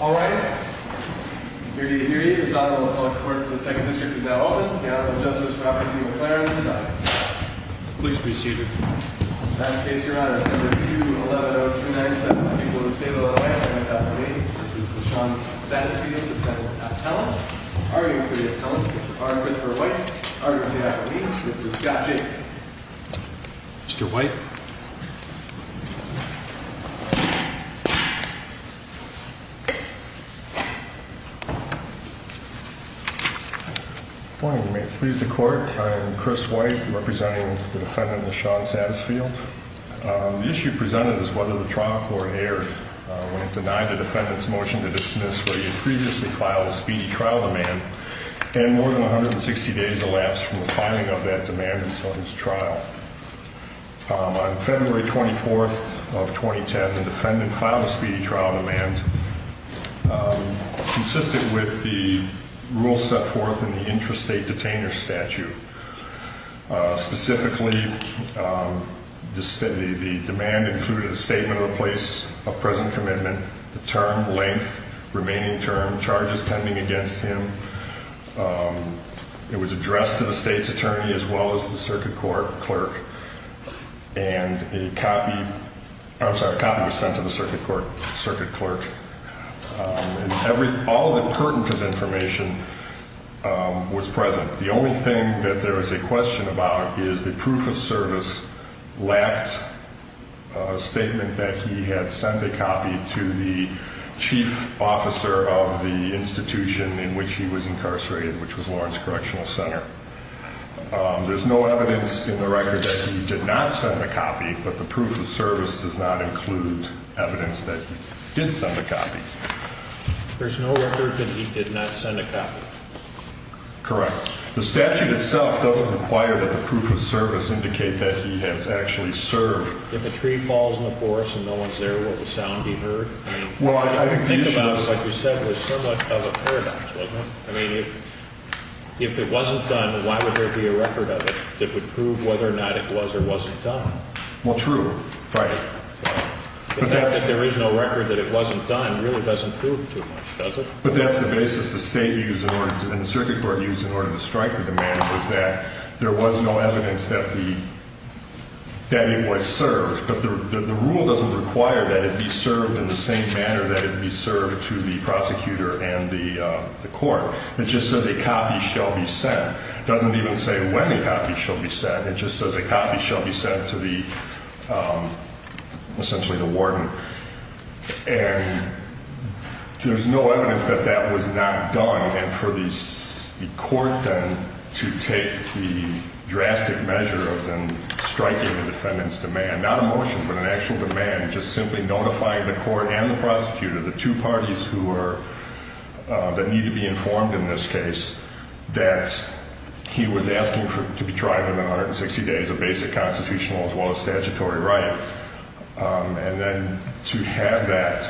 All rise. This Honorable Court for the Second District is now open. The Honorable Justice Robert T. McLaren is out. Please proceed, Your Honor. Last case, Your Honor. It's number 210297. The people of the State of Illinois. I'm going to call the meeting. This is LaShawn Satisfield, the Penitent Appellant. Arguing for the appellant is Mr. R. Christopher White. Arguing for the appellee is Mr. Scott Jacobs. Mr. White. Good morning. You may please the Court. I am Chris White, representing the defendant, LaShawn Satisfield. The issue presented is whether the trial court erred when it denied the defendant's motion to dismiss where he had previously filed a speedy trial demand and more than 160 days elapsed from the filing of that demand until his trial. On February 24th of 2010, the defendant filed a speedy trial demand consistent with the rules set forth in the intrastate detainer statute. Specifically, the demand included a statement of a place of present commitment, the term, length, remaining term, charges pending against him. It was addressed to the state's attorney as well as the circuit court clerk. And a copy was sent to the circuit court clerk. All of the pertinent information was present. The only thing that there is a question about is the proof of service lacked a statement that he had sent a copy to the chief officer of the institution in which he was incarcerated, which was Lawrence Correctional Center. There's no evidence in the record that he did not send a copy, but the proof of service does not include evidence that he did send a copy. There's no record that he did not send a copy? Correct. The statute itself doesn't require that the proof of service indicate that he has actually served. If a tree falls in the forest and no one's there, will the sound be heard? Well, I think the issue is – Think about it. Like you said, there's so much of a paradox, wasn't there? I mean, if it wasn't done, why would there be a record of it that would prove whether or not it was or wasn't done? Well, true. Right. But that's – The fact that there is no record that it wasn't done really doesn't prove too much, does it? But that's the basis the state used in order to – The rule doesn't require that it be served in the same manner that it be served to the prosecutor and the court. It just says a copy shall be sent. It doesn't even say when a copy shall be sent. It just says a copy shall be sent to the – essentially the warden. And there's no evidence that that was not done, and for the court then to take the drastic measure of then striking the defendant's demand, not a motion but an actual demand, just simply notifying the court and the prosecutor, the two parties who are – that need to be informed in this case, that he was asking to be tried within 160 days of basic constitutional as well as statutory right, and then to have that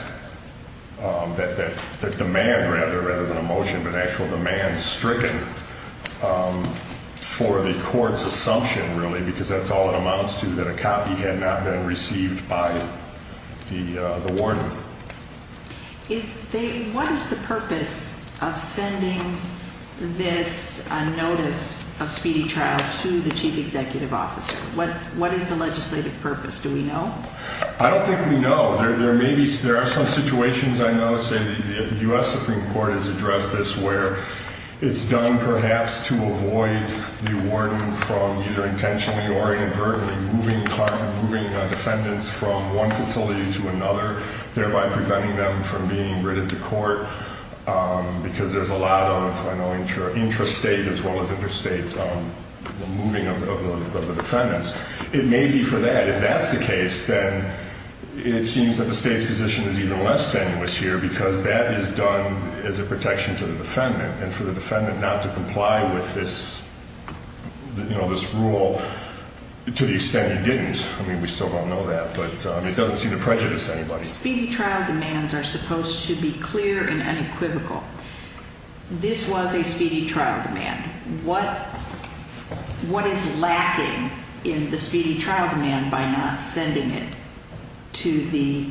demand rather than a motion but an actual demand stricken for the court's assumption really because that's all it amounts to, that a copy had not been received by the warden. Is the – what is the purpose of sending this notice of speedy trial to the chief executive officer? What is the legislative purpose? Do we know? I don't think we know. There may be – there are some situations I know say the U.S. Supreme Court has addressed this where it's done perhaps to avoid the warden from either intentionally or inadvertently moving defendants from one facility to another, thereby preventing them from being written to court because there's a lot of, I know, intrastate as well as interstate moving of the defendants. It may be for that. If that's the case, then it seems that the State's position is even less tenuous here because that is done as a protection to the defendant, and for the defendant not to comply with this, you know, this rule to the extent he didn't. I mean, we still don't know that, but it doesn't seem to prejudice anybody. Speedy trial demands are supposed to be clear and unequivocal. This was a speedy trial demand. What is lacking in the speedy trial demand by not sending it to the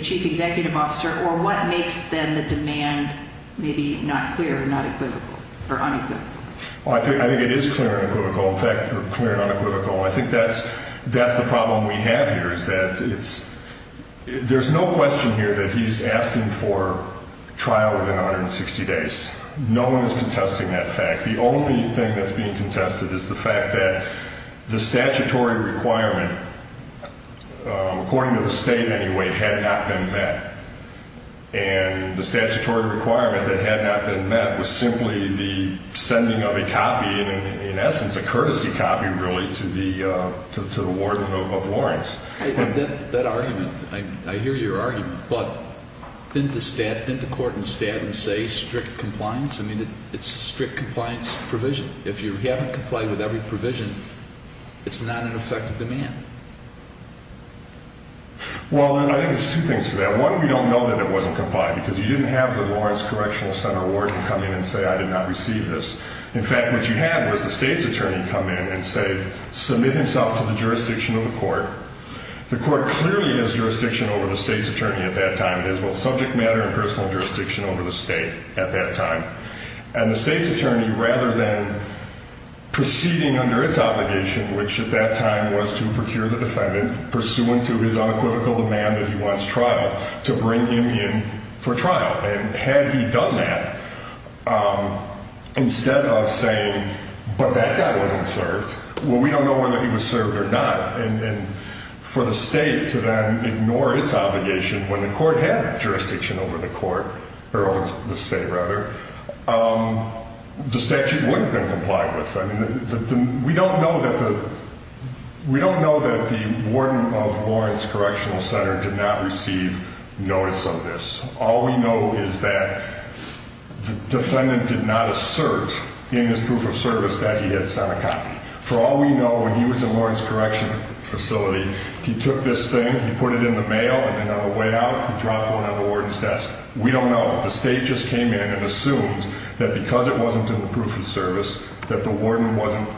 chief executive officer, or what makes, then, the demand maybe not clear and unequivocal? Well, I think it is clear and unequivocal. In fact, clear and unequivocal. I think that's the problem we have here is that it's – there's no question here that he's asking for trial within 160 days. No one is contesting that fact. The only thing that's being contested is the fact that the statutory requirement, according to the State anyway, had not been met, and the statutory requirement that had not been met was simply the sending of a copy, and in essence a courtesy copy, really, to the warden of Lawrence. That argument, I hear your argument, but didn't the court instead say strict compliance? I mean, it's a strict compliance provision. If you haven't complied with every provision, it's not an effective demand. Well, I think there's two things to that. One, we don't know that it wasn't complied because you didn't have the Lawrence Correctional Center warden come in and say, I did not receive this. In fact, what you had was the state's attorney come in and say, submit himself to the jurisdiction of the court. The court clearly has jurisdiction over the state's attorney at that time. It has both subject matter and personal jurisdiction over the state at that time. And the state's attorney, rather than proceeding under its obligation, which at that time was to procure the defendant, pursuant to his unequivocal demand that he wants trial, to bring him in for trial. And had he done that, instead of saying, but that guy wasn't served. Well, we don't know whether he was served or not. And for the state to then ignore its obligation when the court had jurisdiction over the state, the statute wouldn't have been complied with. We don't know that the warden of Lawrence Correctional Center did not receive notice of this. All we know is that the defendant did not assert in his proof of service that he had sent a copy. For all we know, when he was in Lawrence Correctional Facility, he took this thing, he put it in the mail, and on the way out, he dropped it on the warden's desk. We don't know. The state just came in and assumed that because it wasn't in the proof of service, that the warden wasn't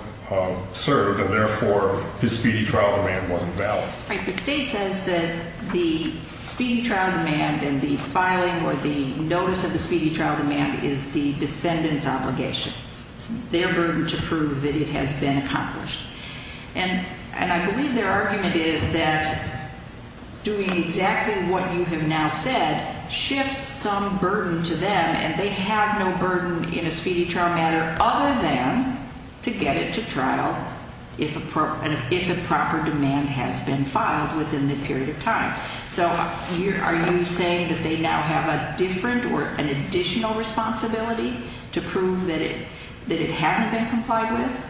served, and therefore, his speedy trial demand wasn't valid. Right. The state says that the speedy trial demand and the filing or the notice of the speedy trial demand is the defendant's obligation. It's their burden to prove that it has been accomplished. And I believe their argument is that doing exactly what you have now said shifts some burden to them, and they have no burden in a speedy trial matter other than to get it to trial if a proper demand has been filed within the period of time. So are you saying that they now have a different or an additional responsibility to prove that it hasn't been complied with?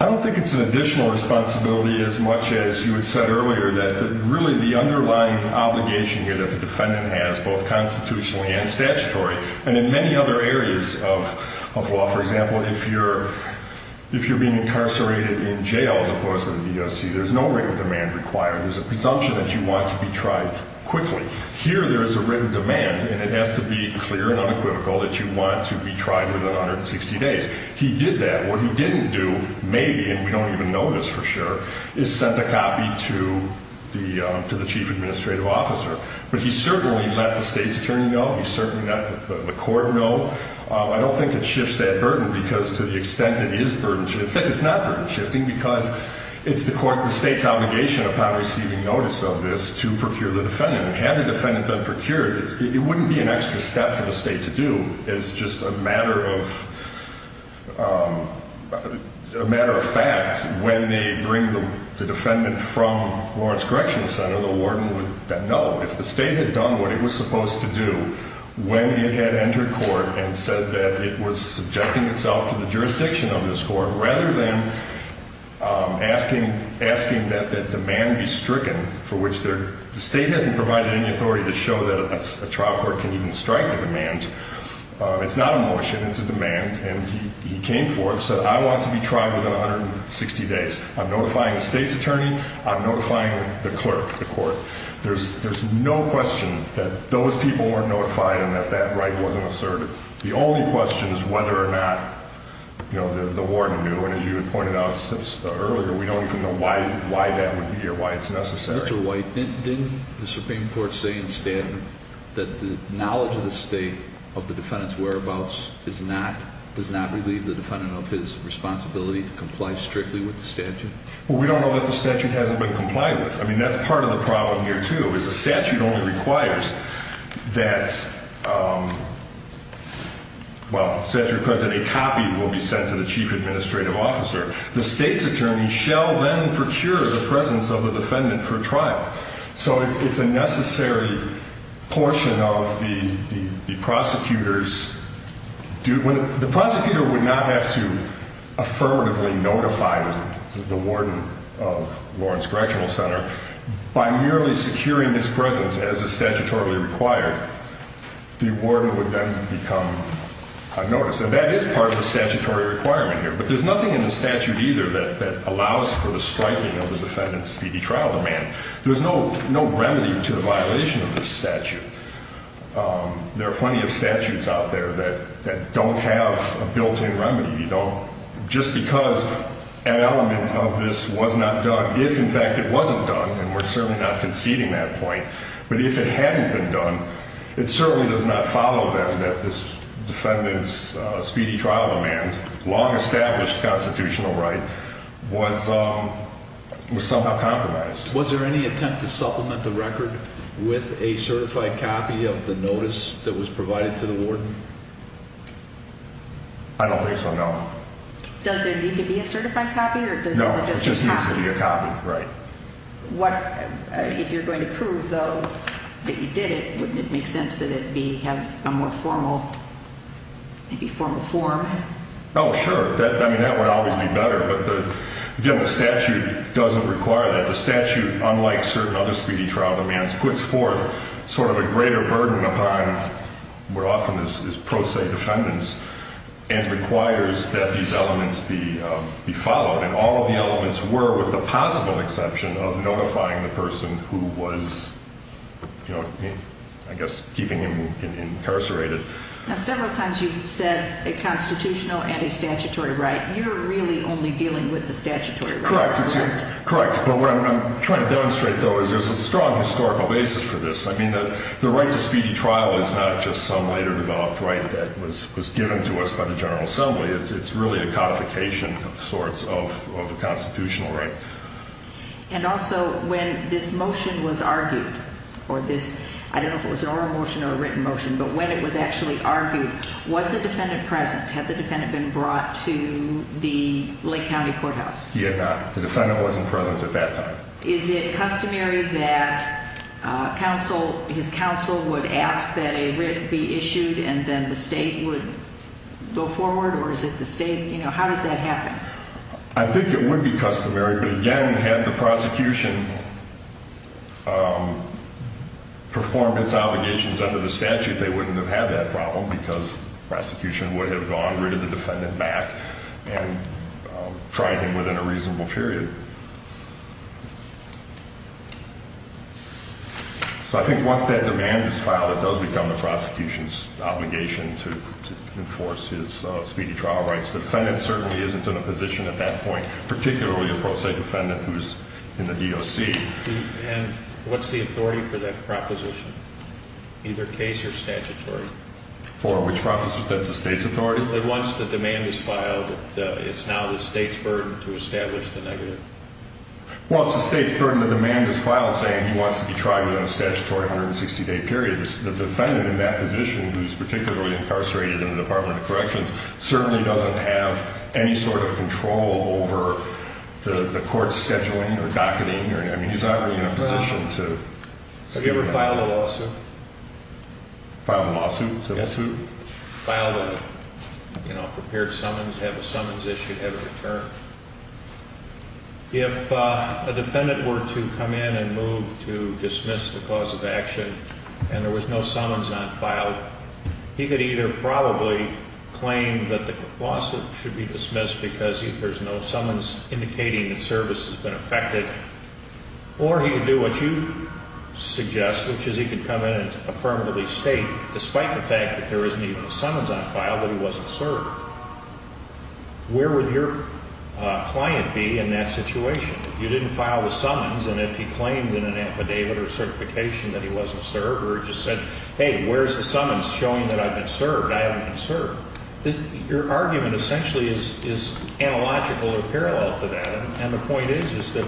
I don't think it's an additional responsibility as much as you had said earlier, that really the underlying obligation here that the defendant has, both constitutionally and statutory, and in many other areas of law. For example, if you're being incarcerated in jail as opposed to the DOC, there's no written demand required. There's a presumption that you want to be tried quickly. Here, there is a written demand, and it has to be clear and unequivocal that you want to be tried within 160 days. He did that. What he didn't do, maybe, and we don't even know this for sure, is sent a copy to the chief administrative officer. But he certainly let the state's attorney know. He certainly let the court know. I don't think it shifts that burden because to the extent that it is burden shifting. In fact, it's not burden shifting because it's the state's obligation upon receiving notice of this to procure the defendant. Had the defendant been procured, it wouldn't be an extra step for the state to do. It's just a matter of fact when they bring the defendant from Lawrence Correctional Center, the warden would know. If the state had done what it was supposed to do when it had entered court and said that it was subjecting itself to the jurisdiction of this court, rather than asking that that demand be stricken, for which the state hasn't provided any authority to show that a trial court can even strike the demand. It's not a motion. It's a demand. And he came forth and said, I want to be tried within 160 days. I'm notifying the state's attorney. I'm notifying the clerk, the court. There's no question that those people weren't notified and that that right wasn't asserted. The only question is whether or not the warden knew. And as you had pointed out earlier, we don't even know why that would be or why it's necessary. Mr. White, didn't the Supreme Court say in statute that the knowledge of the state of the defendant's whereabouts does not relieve the defendant of his responsibility to comply strictly with the statute? Well, we don't know that the statute hasn't been complied with. I mean, that's part of the problem here, too, is the statute only requires that a copy will be sent to the chief administrative officer. The state's attorney shall then procure the presence of the defendant for trial. So it's a necessary portion of the prosecutor's – the prosecutor would not have to affirmatively notify the warden of Lawrence Correctional Center. By merely securing his presence as is statutorily required, the warden would then become unnoticed. And that is part of the statutory requirement here. But there's nothing in the statute either that allows for the striking of the defendant's speedy trial demand. There's no remedy to the violation of this statute. There are plenty of statutes out there that don't have a built-in remedy. You don't – just because an element of this was not done – if, in fact, it wasn't done, then we're certainly not conceding that point. But if it hadn't been done, it certainly does not follow then that this defendant's speedy trial demand, long-established constitutional right, was somehow compromised. Was there any attempt to supplement the record with a certified copy of the notice that was provided to the warden? I don't think so, no. Does there need to be a certified copy, or does it just need to be a copy? No, it just needs to be a copy, right. What – if you're going to prove, though, that you did it, wouldn't it make sense that it be – have a more formal – maybe formal form? Oh, sure. I mean, that would always be better. But the – again, the statute doesn't require that. The statute, unlike certain other speedy trial demands, puts forth sort of a greater burden upon what often is pro se defendants and requires that these elements be followed. And all of the elements were, with the possible exception of notifying the person who was, you know, I guess keeping him incarcerated. Now, several times you've said a constitutional and a statutory right. You're really only dealing with the statutory right, correct? Correct. But what I'm trying to demonstrate, though, is there's a strong historical basis for this. I mean, the right to speedy trial is not just some later developed right that was given to us by the General Assembly. It's really a codification of sorts of a constitutional right. And also, when this motion was argued, or this – I don't know if it was an oral motion or a written motion, but when it was actually argued, was the defendant present? Had the defendant been brought to the Lake County Courthouse? He had not. The defendant wasn't present at that time. Is it customary that counsel – his counsel would ask that a writ be issued and then the state would go forward? Or is it the state – you know, how does that happen? I think it would be customary. But again, had the prosecution performed its obligations under the statute, they wouldn't have had that problem because prosecution would have gone, written the defendant back, and tried him within a reasonable period. So I think once that demand is filed, it does become the prosecution's obligation to enforce his speedy trial rights. The defendant certainly isn't in a position at that point, particularly a pro se defendant who's in the DOC. And what's the authority for that proposition, either case or statutory? For which proposition? That's the state's authority. Once the demand is filed, it's now the state's burden to establish the negative. Well, it's the state's burden to demand his file saying he wants to be tried within a statutory 160-day period. The defendant in that position, who's particularly incarcerated in the Department of Corrections, certainly doesn't have any sort of control over the court's scheduling or docketing. I mean, he's not really in a position to – Have you ever filed a lawsuit? Filed a lawsuit? Civil suit? Filed a, you know, prepared summons, have a summons issued, have it returned. If a defendant were to come in and move to dismiss the cause of action and there was no summons on file, he could either probably claim that the lawsuit should be dismissed because there's no summons indicating that service has been affected, or he could do what you suggest, which is he could come in and affirmatively state, despite the fact that there isn't even a summons on file, that he wasn't served. Where would your client be in that situation if you didn't file the summons and if he claimed in an affidavit or certification that he wasn't served or just said, hey, where's the summons showing that I've been served, I haven't been served? Your argument essentially is analogical or parallel to that, and the point is that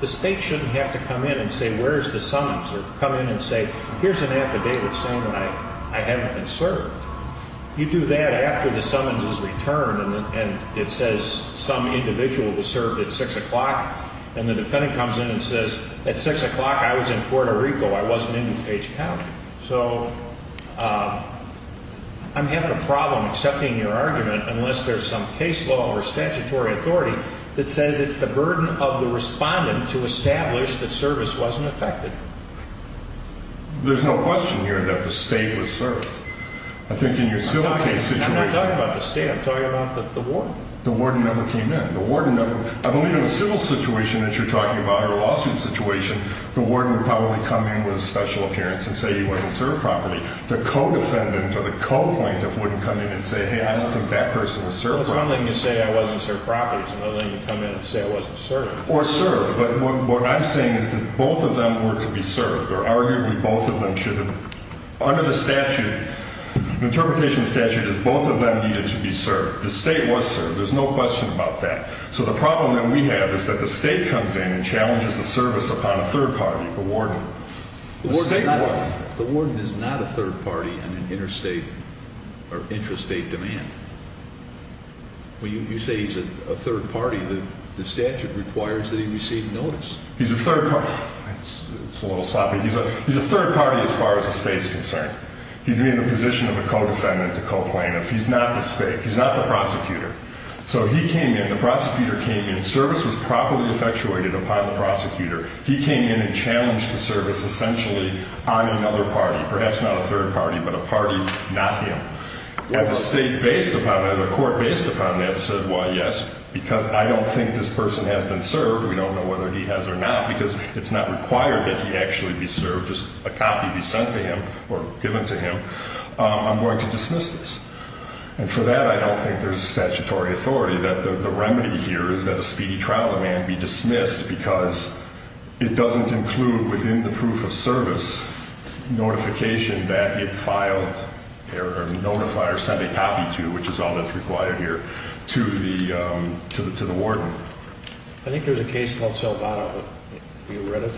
the state shouldn't have to come in and say, where's the summons, or come in and say, here's an affidavit saying that I haven't been served. You do that after the summons is returned and it says some individual was served at 6 o'clock, and the defendant comes in and says, at 6 o'clock I was in Puerto Rico, I wasn't in DuPage County. So I'm having a problem accepting your argument unless there's some case law or statutory authority that says it's the burden of the respondent to establish that service wasn't affected. There's no question here that the state was served. I think in your civil case situation. I'm not talking about the state, I'm talking about the warden. The warden never came in. I believe in a civil situation that you're talking about or a lawsuit situation, the warden would probably come in with a special appearance and say he wasn't served properly. The co-defendant or the co-plaintiff wouldn't come in and say, hey, I don't think that person was served properly. It's one thing to say I wasn't served properly, it's another thing to come in and say I wasn't served. Or served, but what I'm saying is that both of them were to be served, or arguably both of them should have been. Under the statute, the interpretation of the statute is both of them needed to be served. The state was served. There's no question about that. So the problem that we have is that the state comes in and challenges the service upon a third party, the warden. The state was. The warden is not a third party on an interstate or intrastate demand. When you say he's a third party, the statute requires that he receive notice. He's a third party. It's a little sloppy. He's a third party as far as the state's concerned. He'd be in the position of a co-defendant, a co-plaintiff. He's not the state. He's not the prosecutor. So he came in. The prosecutor came in. Service was properly effectuated upon the prosecutor. He came in and challenged the service essentially on another party, perhaps not a third party, but a party, not him. And the state based upon that, the court based upon that, said, well, yes, because I don't think this person has been served. We don't know whether he has or not because it's not required that he actually be served, just a copy be sent to him or given to him. I'm going to dismiss this. And for that, I don't think there's a statutory authority that the remedy here is that a speedy trial demand be dismissed because it doesn't include within the proof of service notification that it filed or notified or sent a copy to, which is all that's required here, to the warden. I think there's a case called Salvato. Have you read it?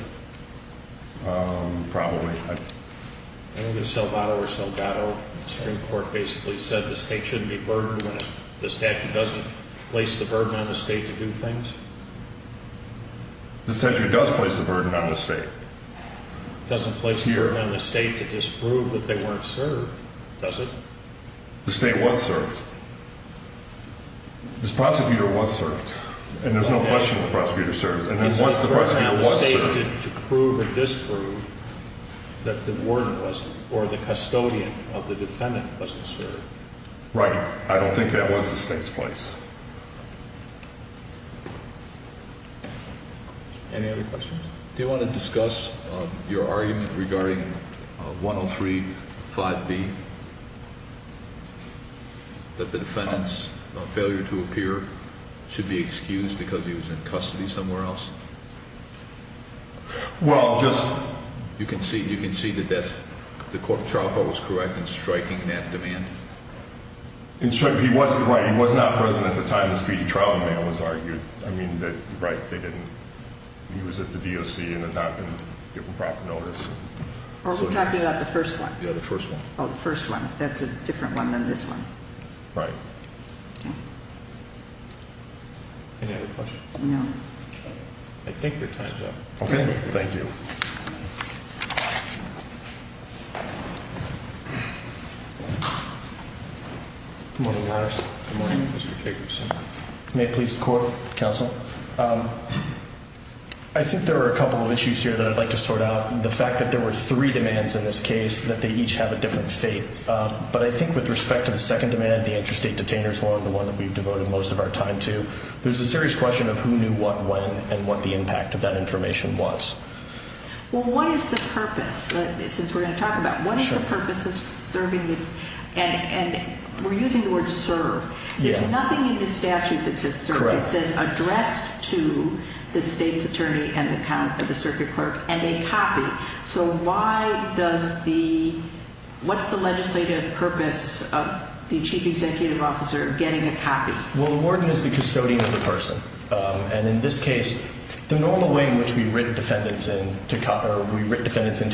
Probably. I think it's Salvato where Salvato Supreme Court basically said the state shouldn't be burdened when the statute doesn't place the burden on the state to do things. The statute does place the burden on the state. It doesn't place the burden on the state to disprove that they weren't served, does it? The state was served. This prosecutor was served. And there's no question the prosecutor served. And then once the prosecutor was served. To prove or disprove that the warden wasn't or the custodian of the defendant wasn't served. Right. I don't think that was the state's place. Any other questions? Do you want to discuss your argument regarding 103-5B? That the defendant's failure to appear should be excused because he was in custody somewhere else? Well, just. You can see, you can see that that's, the court trial file was correct in striking that demand? He wasn't, right, he was not present at the time the speedy trial demand was argued. I mean, right, they didn't, he was at the DOC and had not been given proper notice. Are we talking about the first one? Yeah, the first one. Oh, the first one. That's a different one than this one. Right. Any other questions? No. I think your time's up. Okay. Thank you. Good morning, Your Honor. Good morning, Mr. Jacobson. May it please the court, counsel. I think there are a couple of issues here that I'd like to sort out. The fact that there were three demands in this case, that they each have a different fate. But I think with respect to the second demand, the interstate detainer's one, the one that we've devoted most of our time to, there's a serious question of who knew what when and what the impact of that information was. Well, what is the purpose? Since we're going to talk about it, what is the purpose of serving the, and we're using the word serve. Yeah. There's nothing in the statute that says serve. Correct. It says addressed to the state's attorney and the circuit clerk and a copy. So why does the, what's the legislative purpose of the chief executive officer getting a copy? Well, the warden is the custodian of the person. And in this case, the normal way in which we write defendants into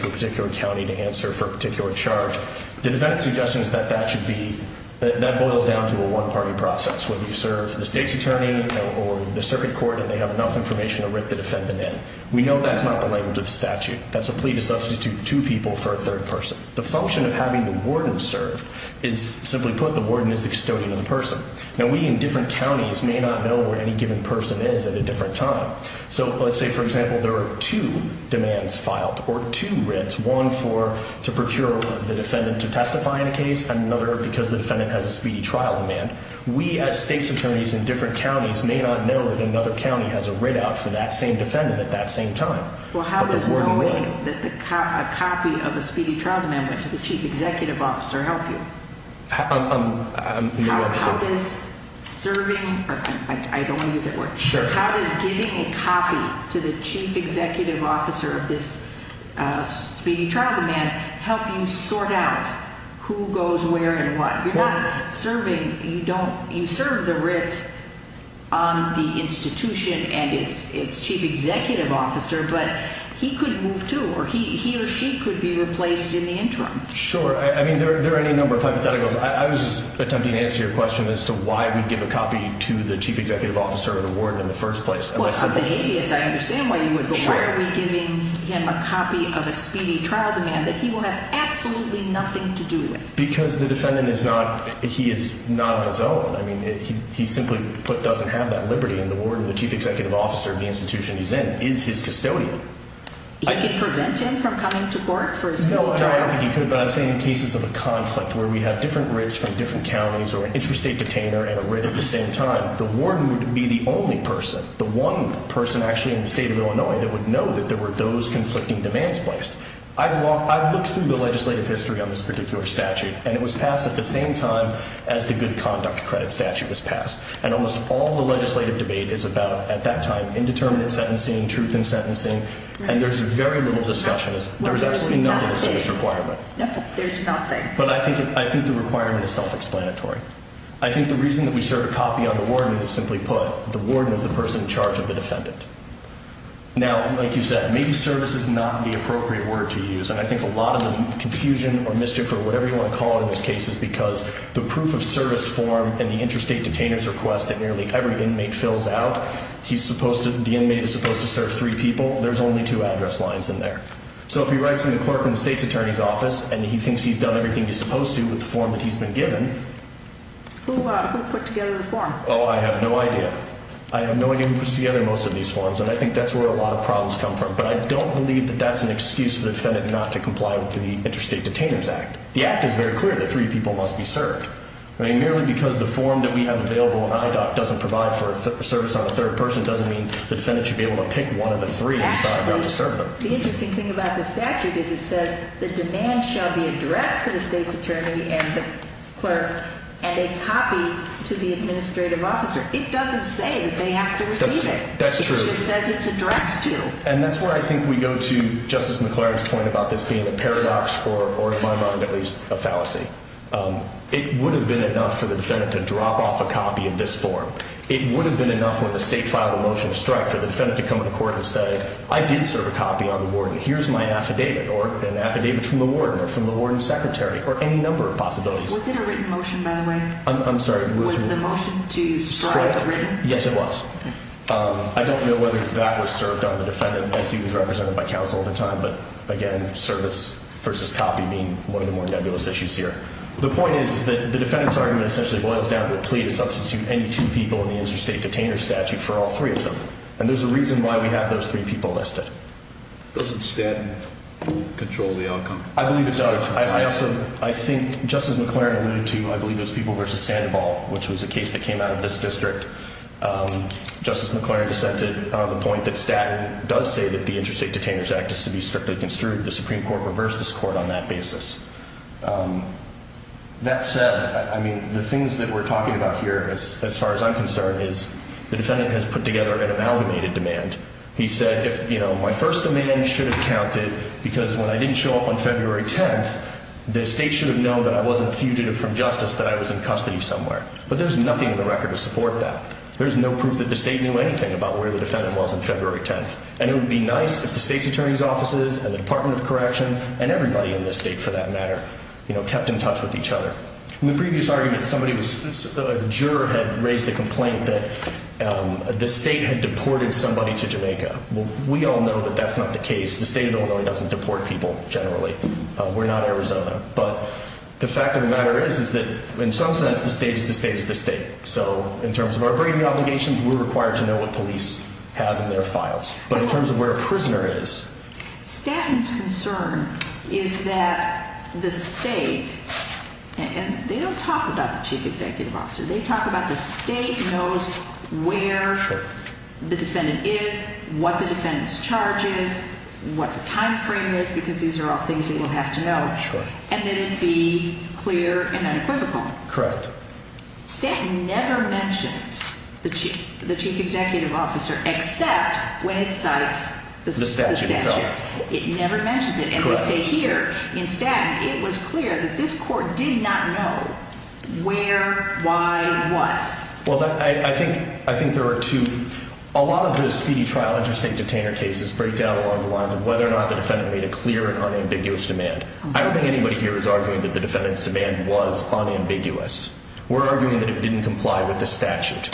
a particular county to answer for a particular charge, the defense suggestion is that that should be, that boils down to a one-party process. Whether you serve the state's attorney or the circuit court and they have enough information to write the defendant in. We know that's not the language of the statute. That's a plea to substitute two people for a third person. The function of having the warden serve is, simply put, the warden is the custodian of the person. Now, we in different counties may not know where any given person is at a different time. So let's say, for example, there are two demands filed or two writs. One for, to procure the defendant to testify in a case and another because the defendant has a speedy trial demand. We as state's attorneys in different counties may not know that another county has a writ out for that same defendant at that same time. Well, how does knowing that a copy of a speedy trial demand went to the chief executive officer help you? How does serving, I don't want to use that word. Sure. How does giving a copy to the chief executive officer of this speedy trial demand help you sort out who goes where and what? You're not serving, you don't, you serve the writ on the institution and its chief executive officer, but he could move to or he or she could be replaced in the interim. Sure. I mean, there are any number of hypotheticals. I was just attempting to answer your question as to why we'd give a copy to the chief executive officer or the warden in the first place. I understand why you would, but why are we giving him a copy of a speedy trial demand that he will have absolutely nothing to do with? Because the defendant is not, he is not on his own. I mean, he simply doesn't have that liberty and the warden or the chief executive officer of the institution he's in is his custodian. He could prevent him from coming to court for his full time? Well, I don't think he could, but I've seen cases of a conflict where we have different writs from different counties or an interstate detainer and a writ at the same time. The warden would be the only person, the one person actually in the state of Illinois that would know that there were those conflicting demands placed. I've looked through the legislative history on this particular statute, and it was passed at the same time as the good conduct credit statute was passed. And almost all the legislative debate is about, at that time, indeterminate sentencing, truth in sentencing, and there's very little discussion. There's absolutely nothing that's in this requirement. There's nothing. But I think the requirement is self-explanatory. I think the reason that we serve a copy on the warden is, simply put, the warden is the person in charge of the defendant. Now, like you said, maybe service is not the appropriate word to use. And I think a lot of the confusion or mischief or whatever you want to call it in this case is because the proof of service form and the interstate detainer's request that nearly every inmate fills out, the inmate is supposed to serve three people. There's only two address lines in there. So if he writes to the clerk in the state's attorney's office and he thinks he's done everything he's supposed to with the form that he's been given… Who put together the form? Oh, I have no idea. I have no idea who put together most of these forms, and I think that's where a lot of problems come from. But I don't believe that that's an excuse for the defendant not to comply with the Interstate Detainers Act. The Act is very clear that three people must be served. I mean, merely because the form that we have available in IDOC doesn't provide for service on a third person doesn't mean the defendant should be able to pick one of the three and decide not to serve them. Actually, the interesting thing about the statute is it says the demand shall be addressed to the state's attorney and the clerk and a copy to the administrative officer. It doesn't say that they have to receive it. That's true. It just says it's addressed to. And that's where I think we go to Justice McLaren's point about this being a paradox or, in my mind at least, a fallacy. It would have been enough for the defendant to drop off a copy of this form. It would have been enough when the state filed a motion to strike for the defendant to come to court and say, I did serve a copy on the warden. Here's my affidavit or an affidavit from the warden or from the warden's secretary or any number of possibilities. Was it a written motion, by the way? I'm sorry. Was the motion to strike a written? Yes, it was. I don't know whether that was served on the defendant as he was represented by counsel at the time. But, again, service versus copy being one of the more nebulous issues here. The point is that the defendant's argument essentially boils down to the plea to substitute any two people in the interstate detainer statute for all three of them. And there's a reason why we have those three people listed. Does the statute control the outcome? I believe it does. I think Justice McClaren alluded to, I believe, those people versus Sandoval, which was a case that came out of this district. Justice McClaren dissented on the point that statute does say that the Interstate Detainers Act is to be strictly construed. The Supreme Court reversed this court on that basis. That said, I mean, the things that we're talking about here, as far as I'm concerned, is the defendant has put together an amalgamated demand. He said, you know, my first demand should have counted because when I didn't show up on February 10th, the state should have known that I wasn't fugitive from justice, that I was in custody somewhere. But there's nothing in the record to support that. There's no proof that the state knew anything about where the defendant was on February 10th. And it would be nice if the state's attorney's offices and the Department of Corrections and everybody in this state, for that matter, kept in touch with each other. In the previous argument, somebody was, a juror had raised a complaint that the state had deported somebody to Jamaica. Well, we all know that that's not the case. The state of Illinois doesn't deport people, generally. We're not Arizona. But the fact of the matter is, is that in some sense, the state is the state is the state. So in terms of our braiding obligations, we're required to know what police have in their files. But in terms of where a prisoner is. Stanton's concern is that the state, and they don't talk about the chief executive officer, they talk about the state knows where the defendant is, what the defendant's charge is, what the time frame is, because these are all things that we'll have to know. And then it'd be clear and unequivocal. Correct. Stanton never mentions the chief executive officer, except when it cites the statute itself. It never mentions it. And they say here in Stanton, it was clear that this court did not know where, why, what. Well, I think there are two, a lot of the speedy trial interstate detainer cases break down along the lines of whether or not the defendant made a clear and unambiguous demand. I don't think anybody here is arguing that the defendant's demand was unambiguous. We're arguing that it didn't comply with the statute.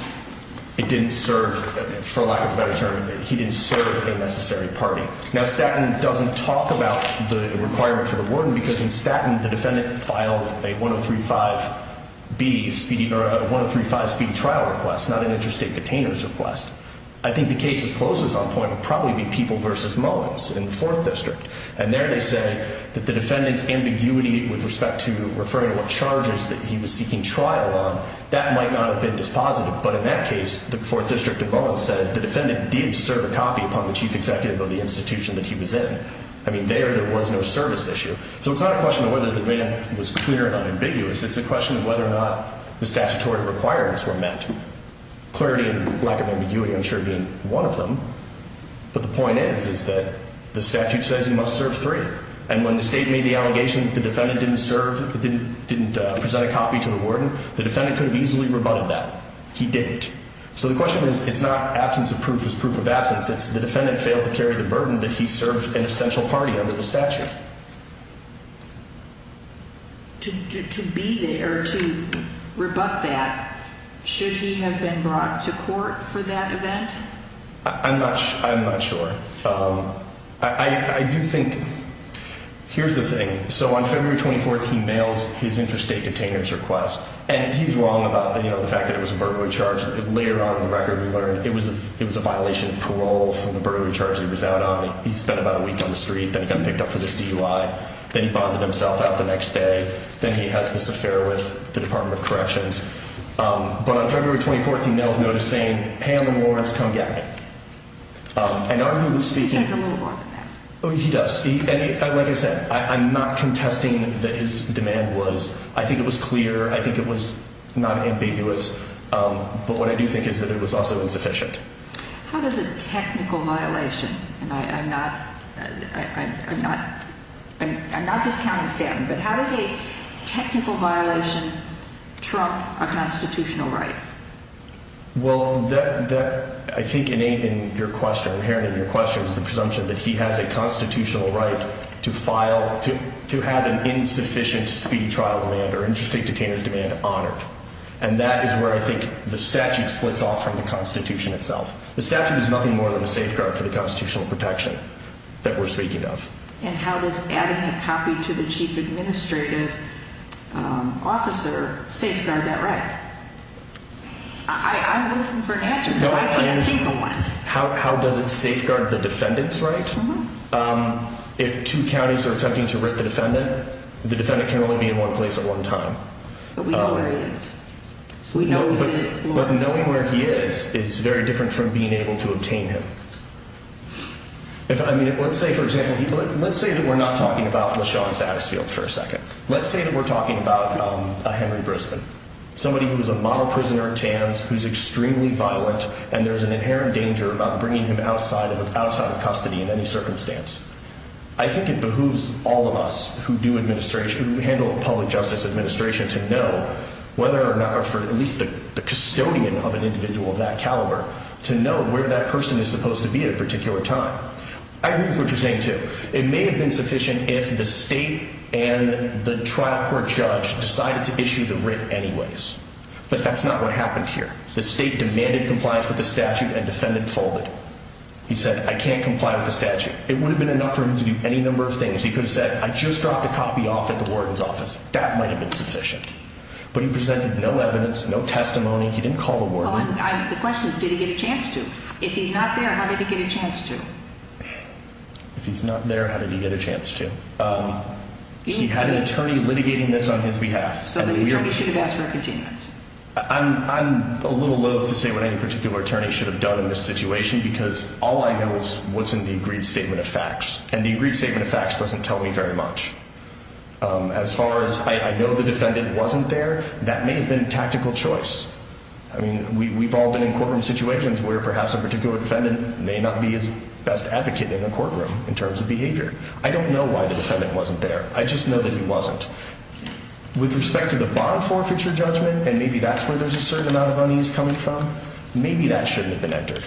It didn't serve, for lack of a better term, he didn't serve a necessary party. Now, Stanton doesn't talk about the requirement for the warden, because in Stanton, the defendant filed a 1035B, or a 1035B trial request, not an interstate detainer's request. I think the case's closest on point would probably be People v. Mullins in the 4th District. And there they say that the defendant's ambiguity with respect to referring to what charges that he was seeking trial on, that might not have been dispositive. But in that case, the 4th District of Mullins said the defendant did serve a copy upon the chief executive of the institution that he was in. I mean, there, there was no service issue. So it's not a question of whether the demand was clear and unambiguous. It's a question of whether or not the statutory requirements were met. Clarity and lack of ambiguity, I'm sure, isn't one of them. But the point is, is that the statute says he must serve three. And when the state made the allegation that the defendant didn't serve, didn't present a copy to the warden, the defendant could have easily rebutted that. He didn't. So the question is, it's not absence of proof is proof of absence. It's the defendant failed to carry the burden that he served an essential party under the statute. To be there to rebut that, should he have been brought to court for that event? I'm not sure. I'm not sure. I do think here's the thing. So on February 24th, he mails his interstate containers request, and he's wrong about the fact that it was a burglary charge. Later on in the record, we learned it was it was a violation of parole from the burglary charge. He was out on it. He spent about a week on the street. Then he got picked up for this DUI. Then he bonded himself out the next day. Then he has this affair with the Department of Corrections. But on February 24th, he mails notice saying, Pam and Lawrence, come get me. He says a little more than that. He does. Like I said, I'm not contesting that his demand was. I think it was clear. I think it was not ambiguous. But what I do think is that it was also insufficient. How does a technical violation? I'm not. I'm not. I'm not. I'm not discounting standing. But how does a technical violation trump a constitutional right? Well, I think in your question, inherent in your question, is the presumption that he has a constitutional right to file, to have an insufficient speedy trial demand or interstate detainer's demand honored. And that is where I think the statute splits off from the Constitution itself. The statute is nothing more than a safeguard for the constitutional protection that we're speaking of. And how does adding a copy to the chief administrative officer safeguard that right? I'm looking for an answer because I can't think of one. How does it safeguard the defendant's right? If two counties are attempting to writ the defendant, the defendant can only be in one place at one time. But we know where he is. But knowing where he is, it's very different from being able to obtain him. I mean, let's say, for example, let's say that we're not talking about LaShawn Satisfield for a second. Let's say that we're talking about a Henry Brisbane, somebody who's a model prisoner at TAMS, who's extremely violent, and there's an inherent danger about bringing him outside of custody in any circumstance. I think it behooves all of us who handle public justice administration to know whether or not, or for at least the custodian of an individual of that caliber, to know where that person is supposed to be at a particular time. I agree with what you're saying, too. It may have been sufficient if the state and the trial court judge decided to issue the writ anyways. But that's not what happened here. The state demanded compliance with the statute, and defendant folded. He said, I can't comply with the statute. It would have been enough for him to do any number of things. He could have said, I just dropped a copy off at the warden's office. That might have been sufficient. But he presented no evidence, no testimony. He didn't call the warden. The question is, did he get a chance to? If he's not there, how did he get a chance to? If he's not there, how did he get a chance to? He had an attorney litigating this on his behalf. So the attorney should have asked for a continuance. I'm a little loathe to say what any particular attorney should have done in this situation, because all I know is what's in the agreed statement of facts. And the agreed statement of facts doesn't tell me very much. As far as I know the defendant wasn't there, that may have been tactical choice. I mean, we've all been in courtroom situations where perhaps a particular defendant may not be his best advocate in a courtroom in terms of behavior. I don't know why the defendant wasn't there. I just know that he wasn't. With respect to the bond forfeiture judgment, and maybe that's where there's a certain amount of unease coming from, maybe that shouldn't have been entered.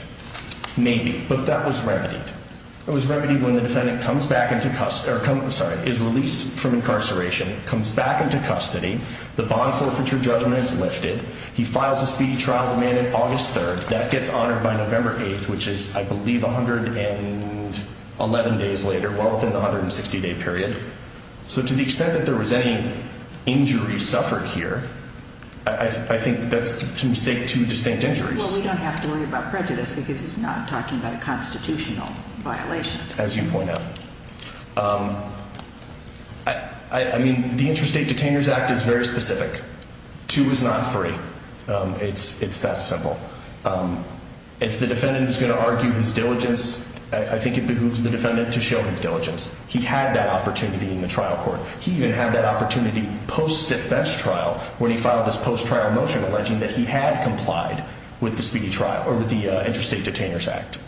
Maybe, but that was remedied. It was remedied when the defendant comes back into custody, is released from incarceration, comes back into custody. The bond forfeiture judgment is lifted. He files a speedy trial demanded August 3rd. That gets honored by November 8th, which is, I believe, 111 days later, well within the 160-day period. So to the extent that there was any injury suffered here, I think that's to mistake two distinct injuries. Well, we don't have to worry about prejudice because it's not talking about a constitutional violation. As you point out. I mean, the Interstate Detainers Act is very specific. Two is not three. It's that simple. If the defendant is going to argue his diligence, I think it behooves the defendant to show his diligence. He had that opportunity in the trial court. He even had that opportunity post-defense trial when he filed his post-trial motion alleging that he had complied with the speedy trial or with the Interstate Detainers Act.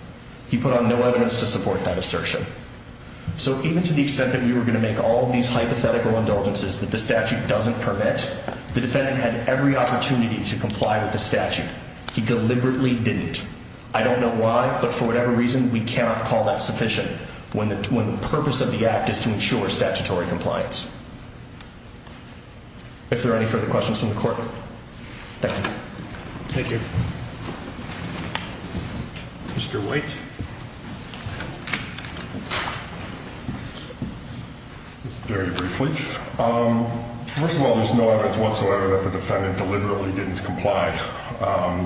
He put on no evidence to support that assertion. So even to the extent that we were going to make all of these hypothetical indulgences that the statute doesn't permit, the defendant had every opportunity to comply with the statute. He deliberately didn't. I don't know why, but for whatever reason, we cannot call that sufficient. When the purpose of the act is to ensure statutory compliance. If there are any further questions from the court. Thank you. Thank you. Mr. White. Very briefly. First of all, there's no evidence whatsoever that the defendant deliberately didn't comply.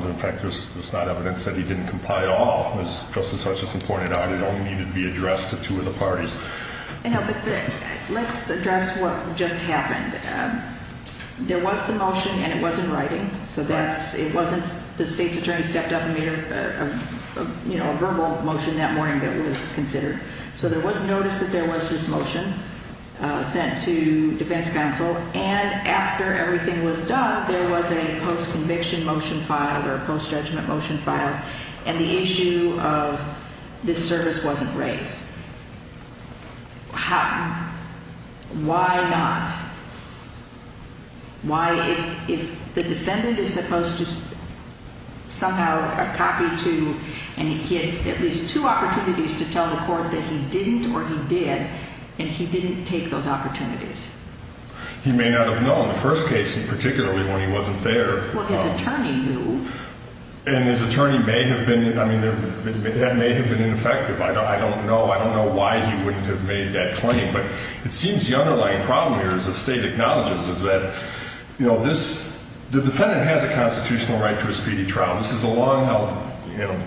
In fact, there's not evidence that he didn't comply at all. As Justice Hutchinson pointed out, it only needed to be addressed to two of the parties. Let's address what just happened. There was the motion and it wasn't writing. So it wasn't the state's attorney stepped up and made a verbal motion that morning that was considered. So there was notice that there was this motion sent to defense counsel. And after everything was done, there was a post-conviction motion filed or a post-judgment motion filed. And the issue of this service wasn't raised. Why not? Why if the defendant is supposed to somehow copy to and he had at least two opportunities to tell the court that he didn't or he did and he didn't take those opportunities. He may not have known the first case, particularly when he wasn't there. Well, his attorney knew. And his attorney may have been, I mean, that may have been ineffective. I don't know. I don't know why he wouldn't have made that claim. But it seems the underlying problem here, as the state acknowledges, is that, you know, this, the defendant has a constitutional right to a speedy trial. This is a long held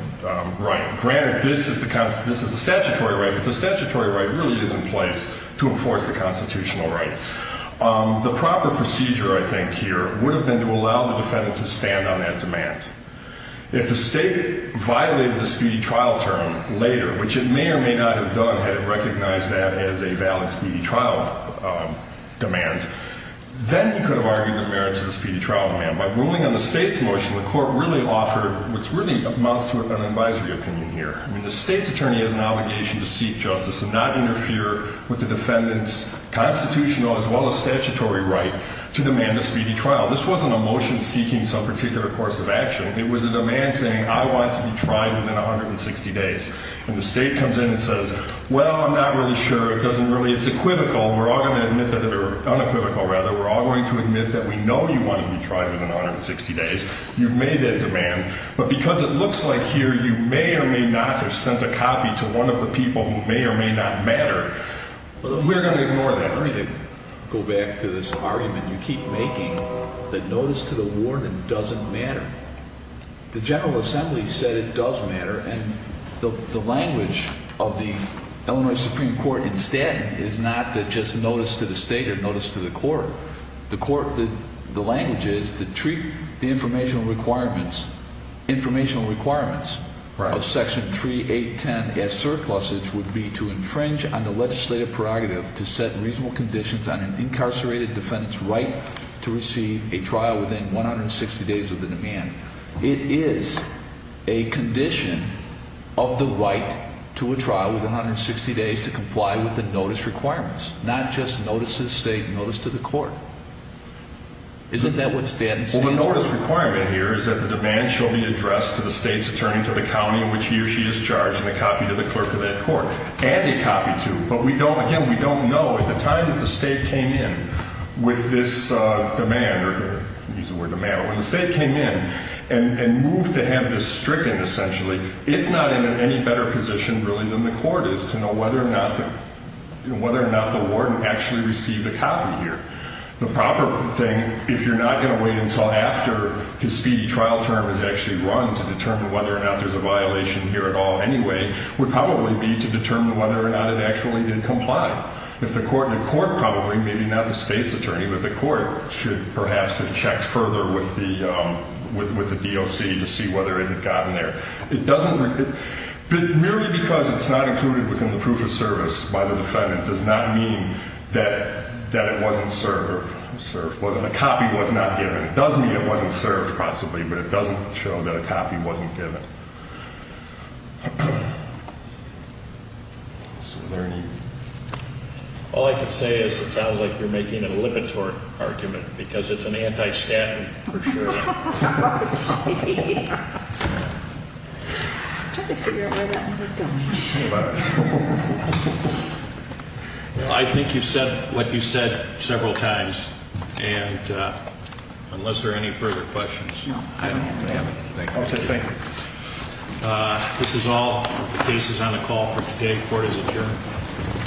right. Granted, this is the statutory right, but the statutory right really is in place to enforce the constitutional right. The proper procedure, I think, here, would have been to allow the defendant to stand on that demand. If the state violated the speedy trial term later, which it may or may not have done had it recognized that as a valid speedy trial demand, then he could have argued it merits a speedy trial demand. By ruling on the state's motion, the court really offered what really amounts to an advisory opinion here. I mean, the state's attorney has an obligation to seek justice and not interfere with the defendant's constitutional as well as statutory right to demand a speedy trial. This wasn't a motion seeking some particular course of action. It was a demand saying, I want to be tried within 160 days. And the state comes in and says, well, I'm not really sure, it doesn't really, it's equivocal. We're all going to admit that, or unequivocal rather, we're all going to admit that we know you want to be tried within 160 days. You've made that demand. But because it looks like here you may or may not have sent a copy to one of the people who may or may not matter, we're going to ignore that. I'm going to go back to this argument you keep making that notice to the warden doesn't matter. The General Assembly said it does matter, and the language of the Illinois Supreme Court in Staten is not that just notice to the state or notice to the court. The court, the language is to treat the informational requirements, informational requirements of Section 3810 as surpluses would be to infringe on the legislative prerogative to set reasonable conditions on an incarcerated defendant's right to receive a trial within 160 days of the demand. It is a condition of the right to a trial within 160 days to comply with the notice requirements, not just notice to the state, notice to the court. Isn't that what Staten stands for? Well, the notice requirement here is that the demand shall be addressed to the state's attorney to the county in which he or she is charged and a copy to the clerk of that court, and a copy to, but we don't, again, we don't know at the time that the state came in with this demand, or use the word demand, when the state came in and moved to have this stricken essentially, it's not in any better position really than the court is to know whether or not the warden actually received a copy here. The proper thing, if you're not going to wait until after his speedy trial term is actually run to determine whether or not there's a violation here at all anyway, would probably be to determine whether or not it actually did comply. If the court, the court probably, maybe not the state's attorney, but the court should perhaps have checked further with the DOC to see whether it had gotten there. It doesn't, merely because it's not included within the proof of service by the defendant does not mean that it wasn't served, a copy was not given. It does mean it wasn't served possibly, but it doesn't show that a copy wasn't given. Is there any? All I can say is it sounds like you're making a Lipitor argument because it's an anti-statute for sure. I'm trying to figure out where that one is going. I think you said what you said several times, and unless there are any further questions, I don't have them. Thank you. This is all. This is on a call for today. Court is adjourned.